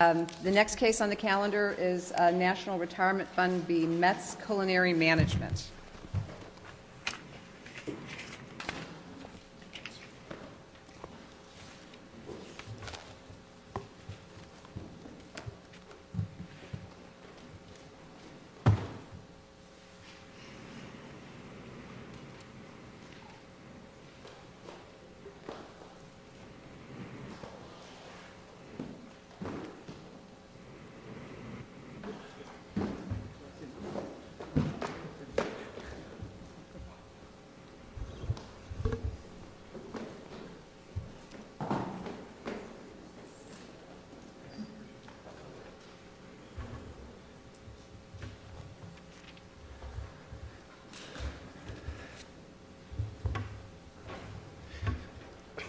The next case on the calendar is National Retirement Fund v. Metz Culinary Management.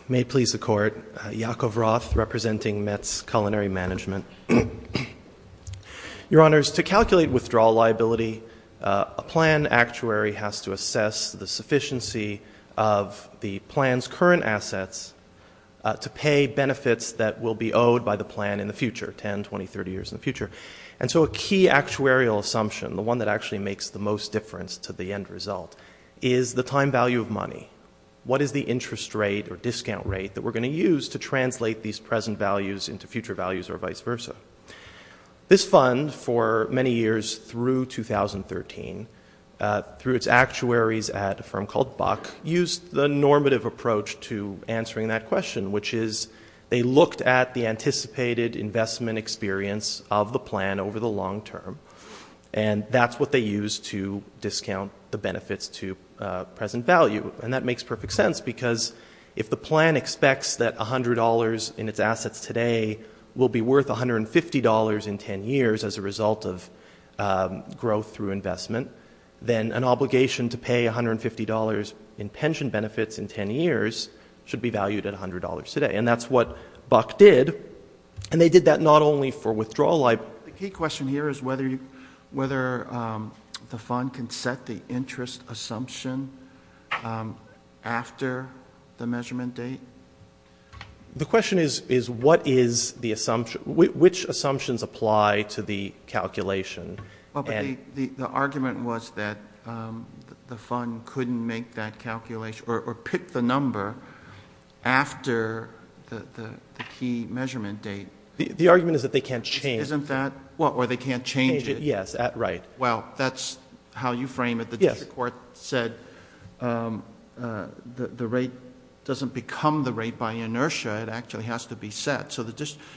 May it please the Court, Your Honours, to calculate withdrawal liability, a plan actuary has to assess the sufficiency of the plan's current assets to pay benefits that will be owed by the plan in the future, 10, 20, 30 years in the future. And so a key actuarial assumption, the one that actually makes the most difference to the end result, is the time value of money. What is the interest rate or discount rate that we're going to use to translate these present values into future values or vice versa? This fund, for many years through 2013, through its actuaries at a firm called Buck, used the normative approach to answering that question, which is they looked at the anticipated investment experience of the plan over the long term, and that's what they used to discount the benefits to present value. And that makes perfect sense, because if the plan expects that $100 in its assets today will be worth $150 in 10 years as a result of growth through investment, then an obligation to pay $150 in pension benefits in 10 years should be valued at $100 today. And that's what Buck did. And they did that not only for withdrawal liability. The key question here is whether the fund can set the interest assumption after the measurement date. The question is, what is the assumption? Which assumptions apply to the calculation? The argument was that the fund couldn't make that calculation or pick the number after the key measurement date. The argument is that they can't change. Isn't that? Or they can't change it? Yes. Right. Well, that's how you frame it. The district court said the rate doesn't become the rate by inertia. It actually has to be set.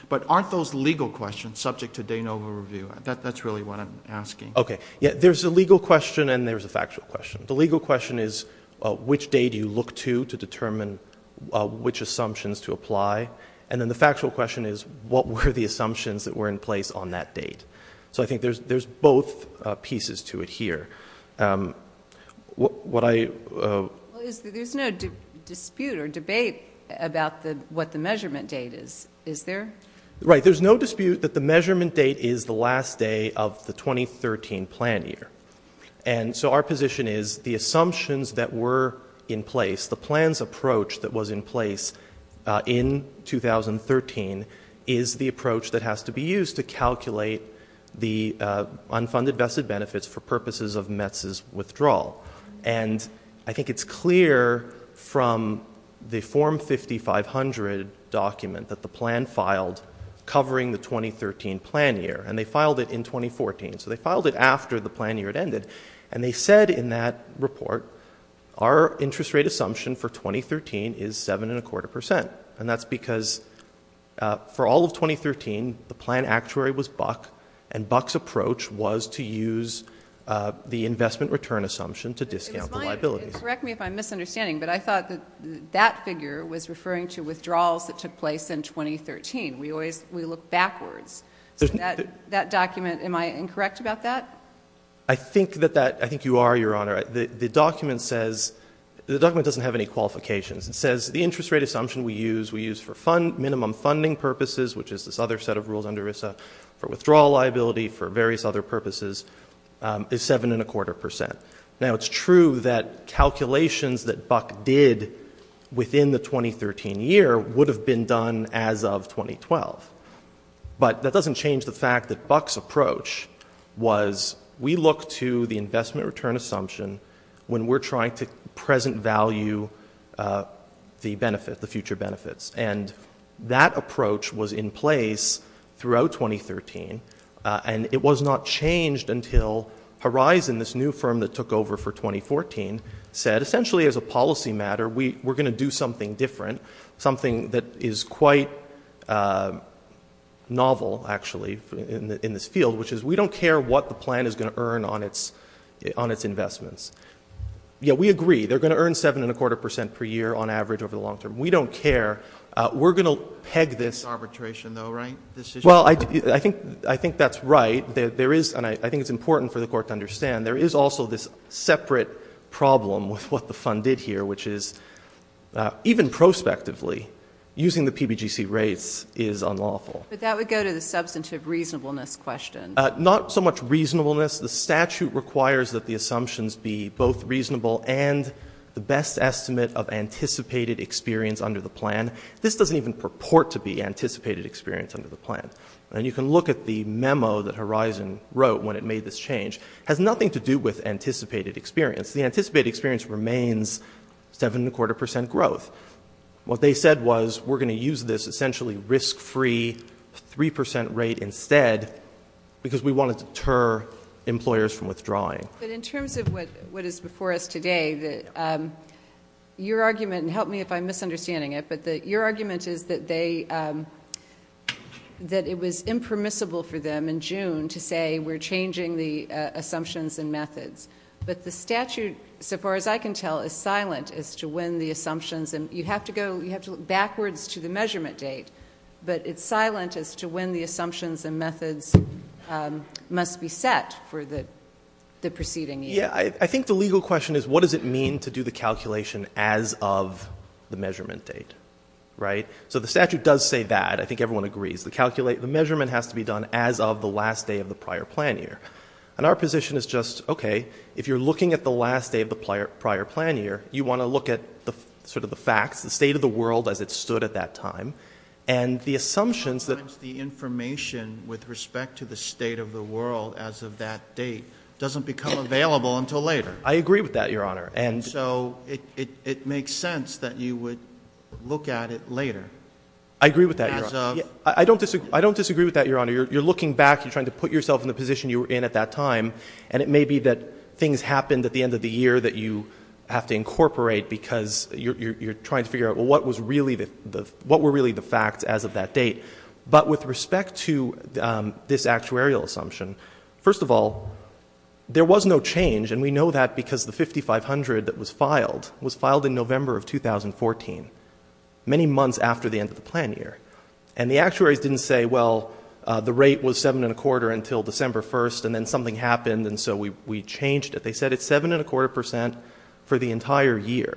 But aren't those legal questions subject to de novo review? That's really what I'm asking. Okay. There's a legal question and there's a factual question. The legal question is, which date do you look to to determine which assumptions to apply? And then the factual question is, what were the assumptions that were in place on that date? So I think there's both pieces to it here. There's no dispute or debate about what the measurement date is, is there? Right. There's no dispute that the measurement date is the last day of the 2013 plan year. And so our position is the assumptions that were in place, the plan's approach that was in place in 2013, is the approach that has to be used to calculate the unfunded vested benefits for purposes of METS's withdrawal. And I think it's clear from the Form 5500 document that the plan filed covering the 2013 plan year. And they filed it in 2014. So they filed it after the plan year had ended. And they said in that report, our interest rate assumption for 2013 is 7.25%. And that's because for all of 2013, the plan actuary was Buck, and Buck's approach was to use the investment return assumption to discount the liabilities. And correct me if I'm misunderstanding, but I thought that that figure was referring to withdrawals that took place in 2013. We look backwards. So that document, am I incorrect about that? I think that that, I think you are, Your Honor. The document says, the document doesn't have any qualifications. It says the interest rate assumption we use, we use for minimum funding purposes, which is this other set of rules under RISA for withdrawal liability for various other purposes, is 7.25%. Now, it's true that calculations that Buck did within the 2013 year would have been done as of 2012. But that doesn't change the fact that Buck's approach was, we look to the investment return assumption when we're trying to present value the benefit, the future benefits. And that approach was in place throughout 2013. And it was not changed until Horizon, this new firm that took over for 2014, said, essentially as a policy matter, we're going to do something different, something that is quite novel, actually, in this field, which is we don't care what the plan is going to earn on its investments. Yeah, we agree. They're going to earn 7.25% per year on average over the long term. We don't care. We're going to peg this. Arbitration, though, right? Well, I think that's right. There is, and I think it's important for the Court to understand, there is also this separate problem with what the fund did here, which is even prospectively using the PBGC rates is unlawful. But that would go to the substantive reasonableness question. Not so much reasonableness. The statute requires that the assumptions be both reasonable and the best estimate of anticipated experience under the plan. This doesn't even purport to be anticipated experience under the plan. And you can look at the memo that Horizon wrote when it made this change. It has nothing to do with anticipated experience. The anticipated experience remains 7.25% growth. What they said was we're going to use this essentially risk-free 3% rate instead because we want to deter employers from withdrawing. But in terms of what is before us today, your argument, and help me if I'm misunderstanding it, but your argument is that it was impermissible for them in June to say we're changing the assumptions and methods. But the statute, so far as I can tell, is silent as to when the assumptions, and you have to look backwards to the measurement date, but it's silent as to when the assumptions and methods must be set for the preceding year. Yeah, I think the legal question is what does it mean to do the calculation as of the measurement date, right? So the statute does say that. I think everyone agrees. The measurement has to be done as of the last day of the prior plan year. And our position is just, okay, if you're looking at the last day of the prior plan year, you want to look at sort of the facts, the state of the world as it stood at that time, and the assumptions that the information with respect to the state of the world as of that date doesn't become available until later. I agree with that, Your Honor. And so it makes sense that you would look at it later. I agree with that, Your Honor. I don't disagree with that, Your Honor. You're looking back. You're trying to put yourself in the position you were in at that time, and it may be that things happened at the end of the year that you have to incorporate because you're trying to figure out, well, what were really the facts as of that date. But with respect to this actuarial assumption, first of all, there was no change, and we know that because the 5500 that was filed was filed in November of 2014, many months after the end of the plan year. And the actuaries didn't say, well, the rate was 7.25% until December 1st, and then something happened, and so we changed it. They said it's 7.25% for the entire year.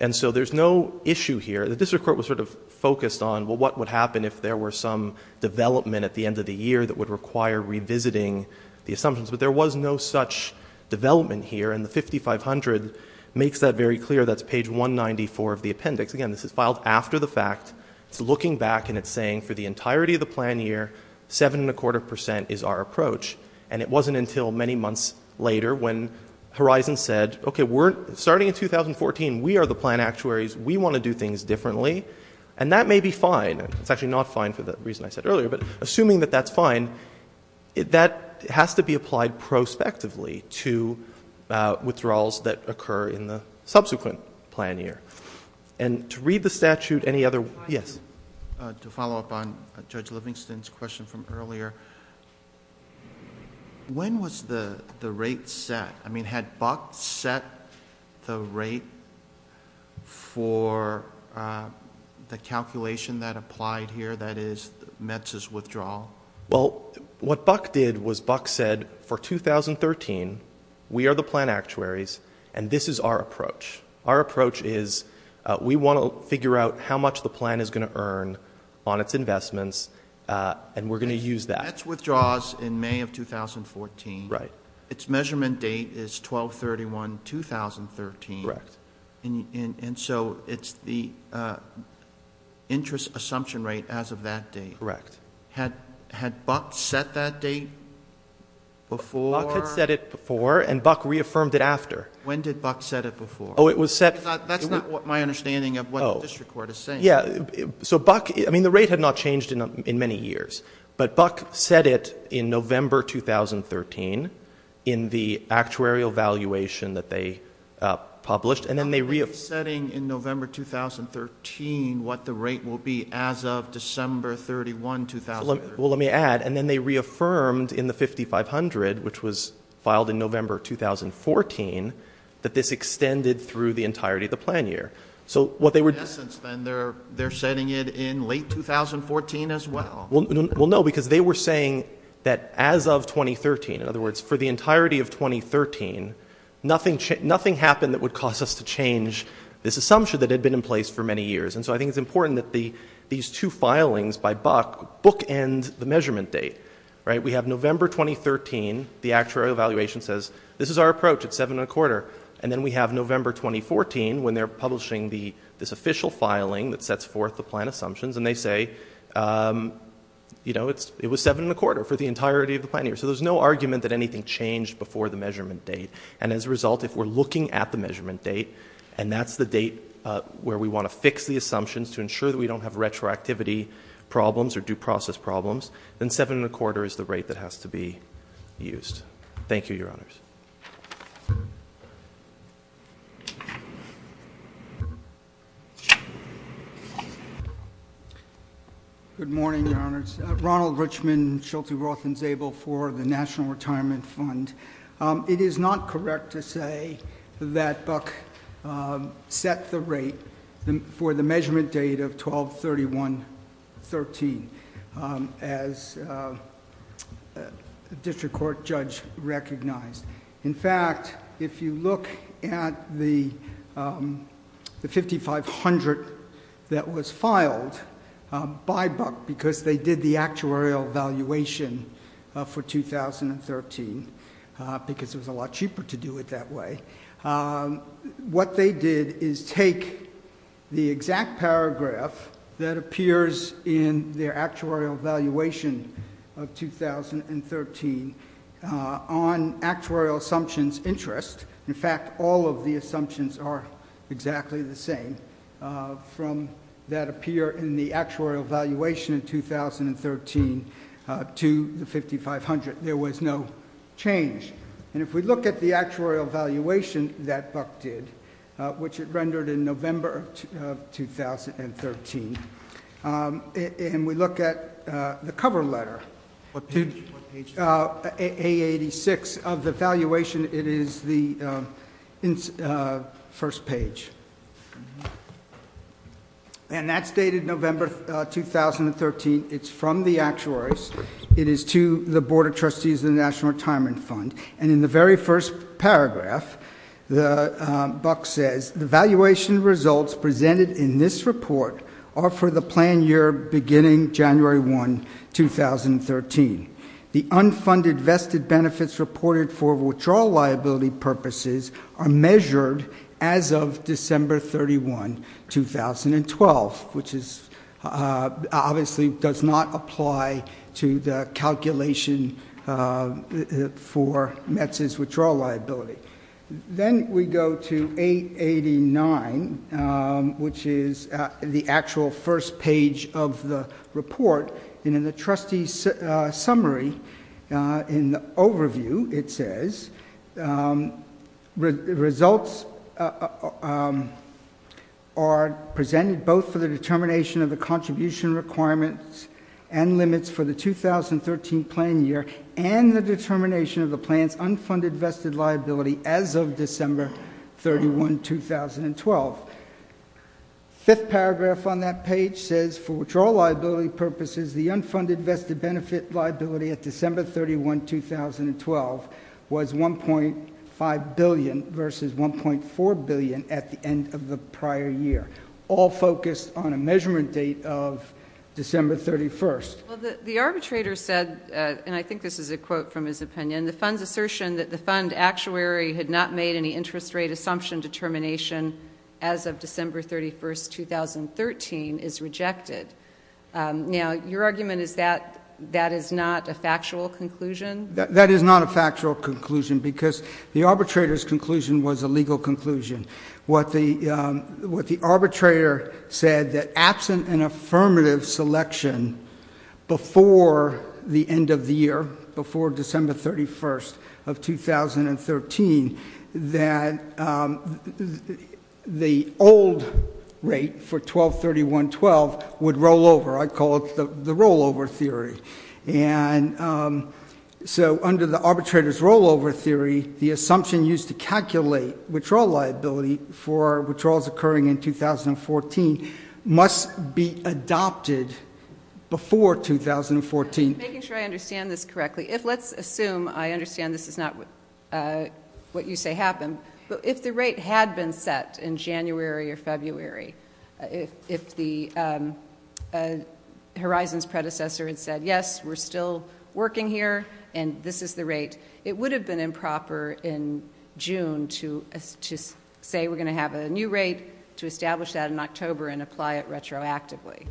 And so there's no issue here. The district court was sort of focused on, well, what would happen if there were some development at the end of the year that would require revisiting the assumptions. But there was no such development here, and the 5500 makes that very clear. That's page 194 of the appendix. Again, this is filed after the fact. It's looking back, and it's saying for the entirety of the plan year, 7.25% is our approach. And it wasn't until many months later when Horizon said, okay, starting in 2014, we are the plan actuaries. We want to do things differently, and that may be fine. It's actually not fine for the reason I said earlier, but assuming that that's fine, that has to be applied prospectively to withdrawals that occur in the subsequent plan year. And to read the statute, any other? Yes. To follow up on Judge Livingston's question from earlier, when was the rate set? I mean, had Buck set the rate for the calculation that applied here, that is METS's withdrawal? Well, what Buck did was Buck said, for 2013, we are the plan actuaries, and this is our approach. Our approach is we want to figure out how much the plan is going to earn on its investments, and we're going to use that. METS withdraws in May of 2014. Right. Its measurement date is 12-31-2013. Correct. And so it's the interest assumption rate as of that date. Correct. Had Buck set that date before? Buck had set it before, and Buck reaffirmed it after. When did Buck set it before? Oh, it was set. That's not my understanding of what the district court is saying. Yeah. So Buck, I mean, the rate had not changed in many years, but Buck set it in November 2013 in the actuary evaluation that they published, and then they reaffirmed. Setting in November 2013 what the rate will be as of December 31, 2013. Well, let me add, and then they reaffirmed in the 5500, which was filed in November 2014, that this extended through the entirety of the plan year. In essence, then, they're setting it in late 2014 as well. Well, no, because they were saying that as of 2013, in other words, for the entirety of 2013, nothing happened that would cause us to change this assumption that had been in place for many years. And so I think it's important that these two filings by Buck bookend the measurement date. Right. We have November 2013. The actuary evaluation says, this is our approach. It's seven and a quarter. And then we have November 2014 when they're publishing this official filing that sets forth the plan assumptions, and they say, you know, it was seven and a quarter for the entirety of the plan year. So there's no argument that anything changed before the measurement date. And as a result, if we're looking at the measurement date, and that's the date where we want to fix the assumptions to ensure that we don't have retroactivity problems or due process problems, then seven and a quarter is the rate that has to be used. Thank you, Your Honors. Good morning, Your Honors. Ronald Richmond, Sheltie Roth and Zabel for the National Retirement Fund. It is not correct to say that Buck set the rate for the measurement date of 12-31-13. As a district court judge recognized. In fact, if you look at the 5500 that was filed by Buck, because they did the actuarial evaluation for 2013, because it was a lot cheaper to do it that way, what they did is take the exact paragraph that appears in their actuarial evaluation of 2013 on actuarial assumptions interest. In fact, all of the assumptions are exactly the same from that appear in the actuarial evaluation in 2013 to the 5500. There was no change. And if we look at the actuarial evaluation that Buck did, which it rendered in November of 2013, and we look at the cover letter, A86 of the valuation, it is the first page. And that's dated November 2013. It's from the actuaries. It is to the Board of Trustees of the National Retirement Fund. And in the very first paragraph, Buck says, the valuation results presented in this report are for the plan year beginning January 1, 2013. The unfunded vested benefits reported for withdrawal liability purposes are measured as of December 31, 2012, which obviously does not apply to the calculation for METS's withdrawal liability. Then we go to A89, which is the actual first page of the report. And in the trustee summary, in the overview, it says, results are presented both for the determination of the contribution requirements and limits for the 2013 plan year and the determination of the plan's unfunded vested liability as of December 31, 2012. Fifth paragraph on that page says, for withdrawal liability purposes, the unfunded vested benefit liability at December 31, 2012, was $1.5 billion versus $1.4 billion at the end of the prior year, all focused on a measurement date of December 31. Well, the arbitrator said, and I think this is a quote from his opinion, the fund's assertion that the fund actuary had not made any interest rate assumption determination as of December 31, 2013, is rejected. Now, your argument is that that is not a factual conclusion? That is not a factual conclusion because the arbitrator's conclusion was a legal conclusion. What the arbitrator said, that absent an affirmative selection before the end of the year, before December 31st of 2013, that the old rate for 12-31-12 would roll over. I call it the rollover theory. And so under the arbitrator's rollover theory, the assumption used to calculate withdrawal liability for withdrawals occurring in 2014 must be adopted before 2014. Making sure I understand this correctly. If let's assume, I understand this is not what you say happened, but if the rate had been set in January or February, if the Horizon's predecessor had said, yes, we're still working here, and this is the rate, it would have been improper in June to say we're going to have a new rate, to establish that in October and apply it retroactively.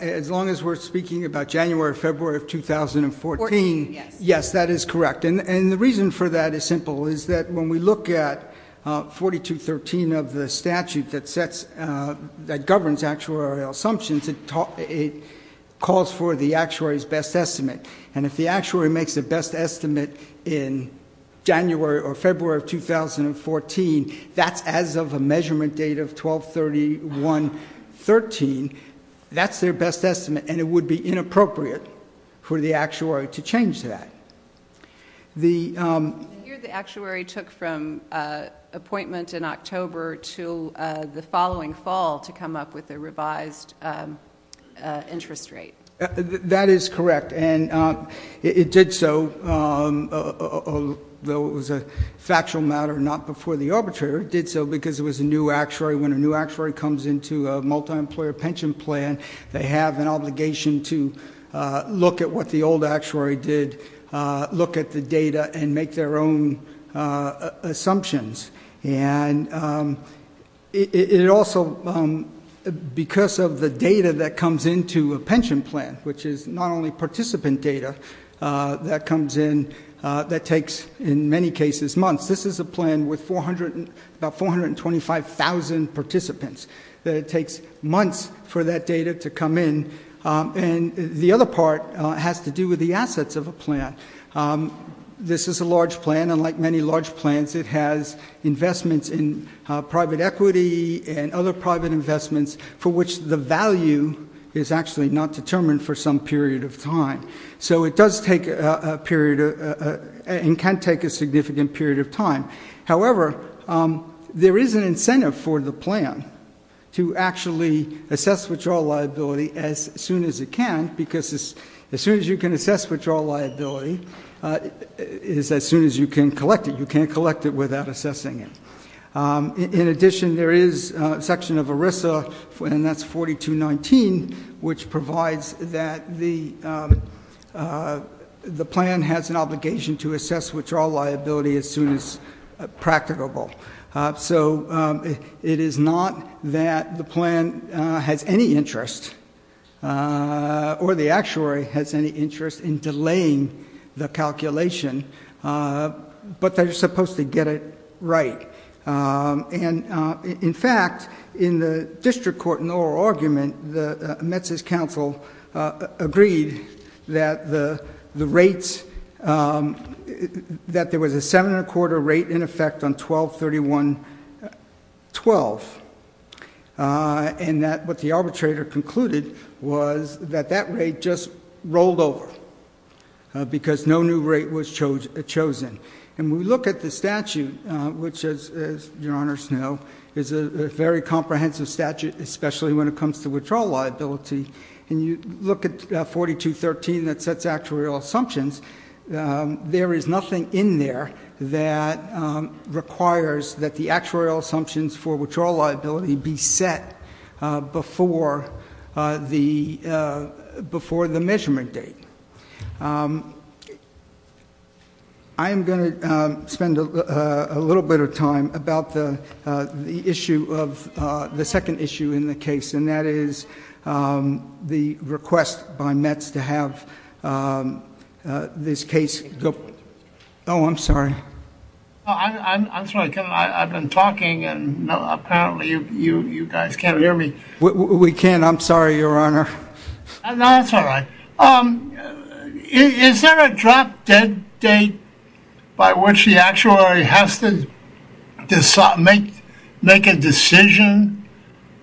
As long as we're speaking about January or February of 2014, yes, that is correct. And the reason for that is simple, is that when we look at 4213 of the statute that governs actuarial assumptions, it calls for the actuary's best estimate. And if the actuary makes a best estimate in January or February of 2014, that's as of a measurement date of 12-31-13, that's their best estimate, and it would be inappropriate for the actuary to change that. The year the actuary took from appointment in October to the following fall to come up with a revised interest rate. That is correct, and it did so, though it was a factual matter not before the arbitrator, it did so because it was a new actuary, when a new actuary comes into a multi-employer pension plan, they have an obligation to look at what the old actuary did, look at the data, and make their own assumptions. And it also, because of the data that comes into a pension plan, which is not only participant data that comes in, that takes, in many cases, months. This is a plan with about 425,000 participants. It takes months for that data to come in. And the other part has to do with the assets of a plan. This is a large plan, and like many large plans, it has investments in private equity and other private investments for which the value is actually not determined for some period of time. So it does take a period, and can take a significant period of time. However, there is an incentive for the plan to actually assess withdrawal liability as soon as it can, because as soon as you can assess withdrawal liability is as soon as you can collect it. You can't collect it without assessing it. In addition, there is a section of ERISA, and that's 4219, which provides that the plan has an obligation to assess withdrawal liability as soon as practicable. So it is not that the plan has any interest, or the actuary has any interest in delaying the calculation, but they're supposed to get it right. In fact, in the district court in the oral argument, the Mets' counsel agreed that there was a seven-and-a-quarter rate in effect on 12-31-12, and that what the arbitrator concluded was that that rate just rolled over, because no new rate was chosen. And when we look at the statute, which, as Your Honors know, is a very comprehensive statute, especially when it comes to withdrawal liability, and you look at 4213 that sets actuarial assumptions, there is nothing in there that requires that the actuarial assumptions for withdrawal liability be set before the measurement date. I am going to spend a little bit of time about the issue of the second issue in the case, and that is the request by Mets to have this case go. Oh, I'm sorry. I'm sorry. I've been talking, and apparently you guys can't hear me. We can. I'm sorry, Your Honor. No, that's all right. Is there a drop-dead date by which the actuary has to make a decision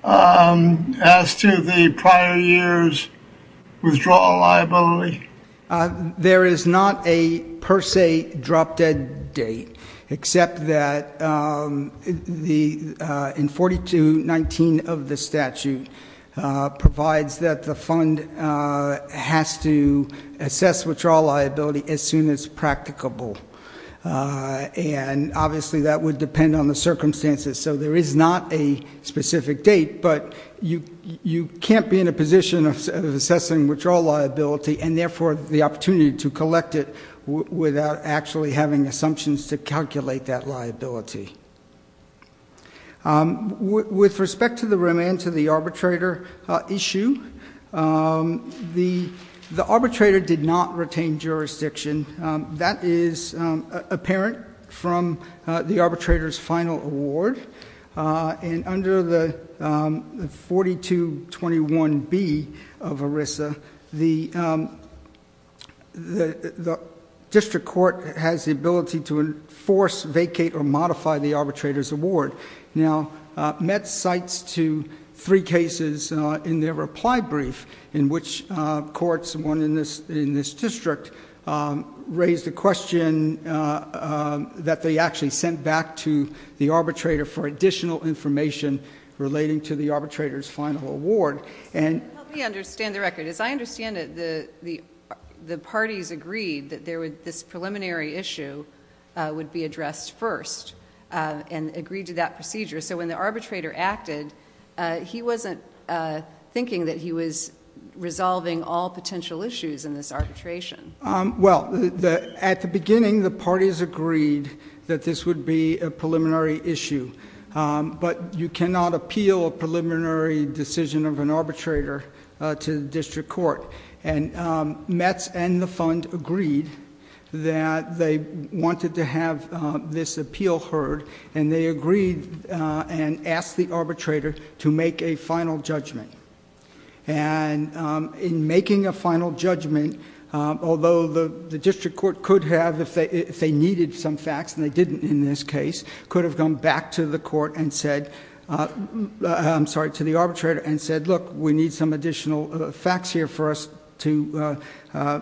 as to the prior year's withdrawal liability? There is not a per se drop-dead date, except that in 4219 of the statute provides that the fund has to assess withdrawal liability as soon as practicable. And obviously that would depend on the circumstances, so there is not a specific date, but you can't be in a position of assessing withdrawal liability and therefore the opportunity to collect it without actually having assumptions to calculate that liability. With respect to the remand to the arbitrator issue, the arbitrator did not retain jurisdiction. That is apparent from the arbitrator's final award, and under the 4221B of ERISA, the district court has the ability to enforce, vacate, or modify the arbitrator's award. Now, Mets cites to three cases in their reply brief in which courts, one in this district, raised a question that they actually sent back to the arbitrator for additional information relating to the arbitrator's final award. Help me understand the record. As I understand it, the parties agreed that this preliminary issue would be addressed first and agreed to that procedure. So when the arbitrator acted, he wasn't thinking that he was resolving all potential issues in this arbitration. Well, at the beginning, the parties agreed that this would be a preliminary issue, but you cannot appeal a preliminary decision of an arbitrator to the district court. And Mets and the fund agreed that they wanted to have this appeal heard, and they agreed and asked the arbitrator to make a final judgment. And in making a final judgment, although the district court could have, if they needed some facts, and they didn't in this case, could have gone back to the arbitrator and said, look, we need some additional facts here for us to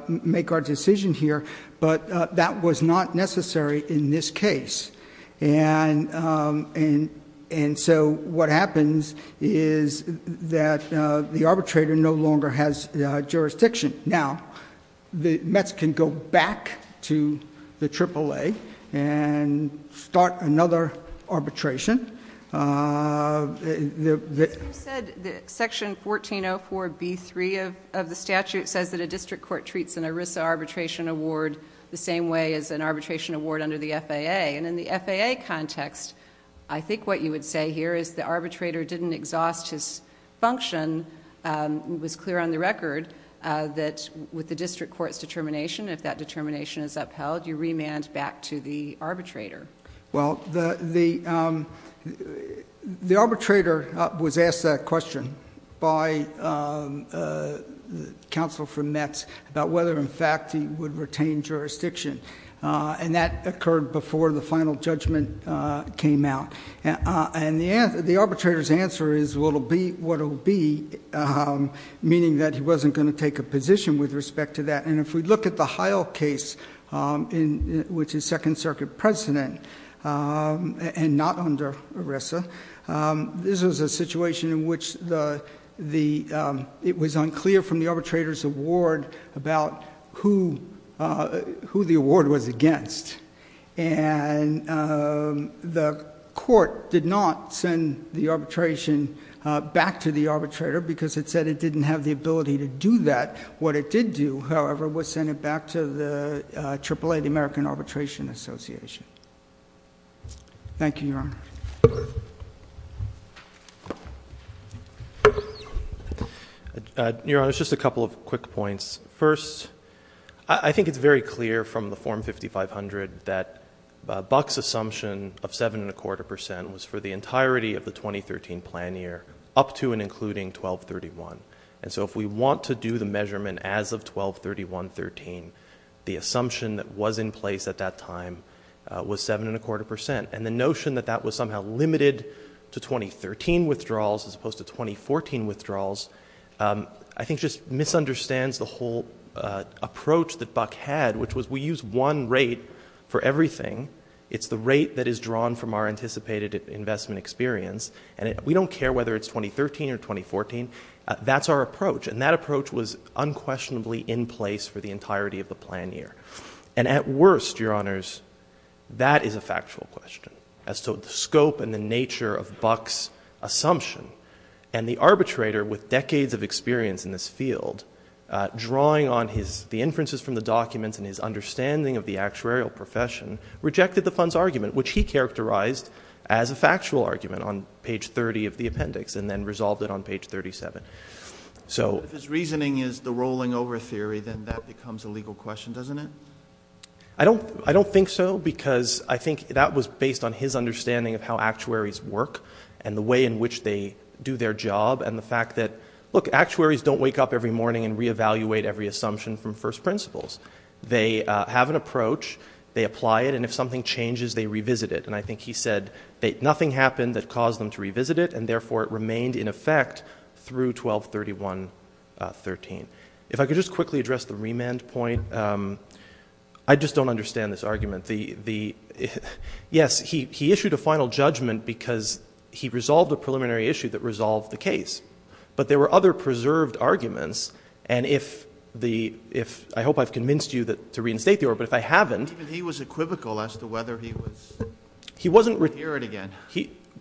make our decision here. But that was not necessary in this case. And so what happens is that the arbitrator no longer has jurisdiction. Now, Mets can go back to the AAA and start another arbitration. You said that Section 1404B3 of the statute says that a district court treats an ERISA arbitration award the same way as an arbitration award under the FAA. And in the FAA context, I think what you would say here is the arbitrator didn't exhaust his function. It was clear on the record that with the district court's determination, if that determination is upheld, you remand back to the arbitrator. Well, the arbitrator was asked that question by counsel from Mets about whether, in fact, he would retain jurisdiction. And that occurred before the final judgment came out. And the arbitrator's answer is, well, it will be what it will be, meaning that he wasn't going to take a position with respect to that. And if we look at the Heil case, which is Second Circuit precedent and not under ERISA, this was a situation in which it was unclear from the arbitrator's award about who the award was against. And the court did not send the arbitration back to the arbitrator because it said it didn't have the ability to do that. What it did do, however, was send it back to the AAA, the American Arbitration Association. Thank you, Your Honor. Your Honor, just a couple of quick points. First, I think it's very clear from the Form 5500 that Buck's assumption of 7.25% was for the entirety of the 2013 plan year up to and including 1231. And so if we want to do the measurement as of 1231.13, the assumption that was in place at that time was 7.25%. And the notion that that was somehow limited to 2013 withdrawals as opposed to 2014 withdrawals, I think just misunderstands the whole approach that Buck had, which was we use one rate for everything. It's the rate that is drawn from our anticipated investment experience. And we don't care whether it's 2013 or 2014. That's our approach. And that approach was unquestionably in place for the entirety of the plan year. And at worst, Your Honors, that is a factual question as to the scope and the nature of Buck's assumption. And the arbitrator, with decades of experience in this field, drawing on the inferences from the documents and his understanding of the actuarial profession, rejected the fund's argument, which he characterized as a factual argument on page 30 of the appendix and then resolved it on page 37. So. If his reasoning is the rolling over theory, then that becomes a legal question, doesn't it? I don't think so because I think that was based on his understanding of how actuaries work and the way in which they do their job and the fact that, look, actuaries don't wake up every morning and reevaluate every assumption from first principles. They have an approach. They apply it. And if something changes, they revisit it. And I think he said nothing happened that caused them to revisit it, and therefore it remained in effect through 1231.13. If I could just quickly address the remand point. I just don't understand this argument. Yes, he issued a final judgment because he resolved a preliminary issue that resolved the case. But there were other preserved arguments. And if the ‑‑ I hope I've convinced you to reinstate the order, but if I haven't. He was equivocal as to whether he was ‑‑ He wasn't ‑‑ Hear it again.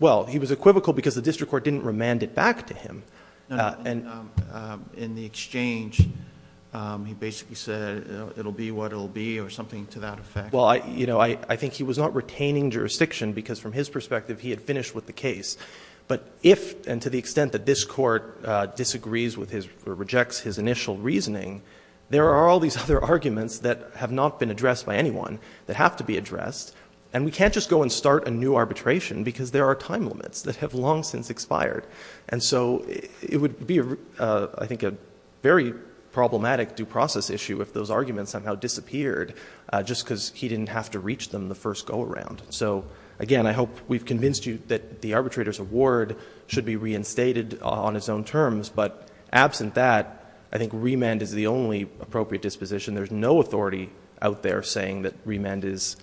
Well, he was equivocal because the district court didn't remand it back to him. In the exchange, he basically said it will be what it will be or something to that effect. Well, you know, I think he was not retaining jurisdiction because from his perspective he had finished with the case. But if and to the extent that this court disagrees with his or rejects his initial reasoning, there are all these other arguments that have not been addressed by anyone that have to be addressed. And we can't just go and start a new arbitration because there are time limits that have long since expired. And so it would be, I think, a very problematic due process issue if those arguments somehow disappeared just because he didn't have to reach them the first go around. So, again, I hope we've convinced you that the arbitrator's award should be reinstated on his own terms. But absent that, I think remand is the only appropriate disposition. There's no authority out there saying that remand is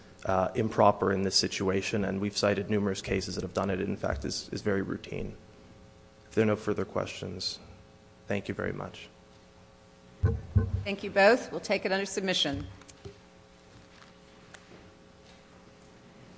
improper in this situation. And we've cited numerous cases that have done it. It, in fact, is very routine. If there are no further questions, thank you very much. Thank you both. We'll take it under submission. Thank you.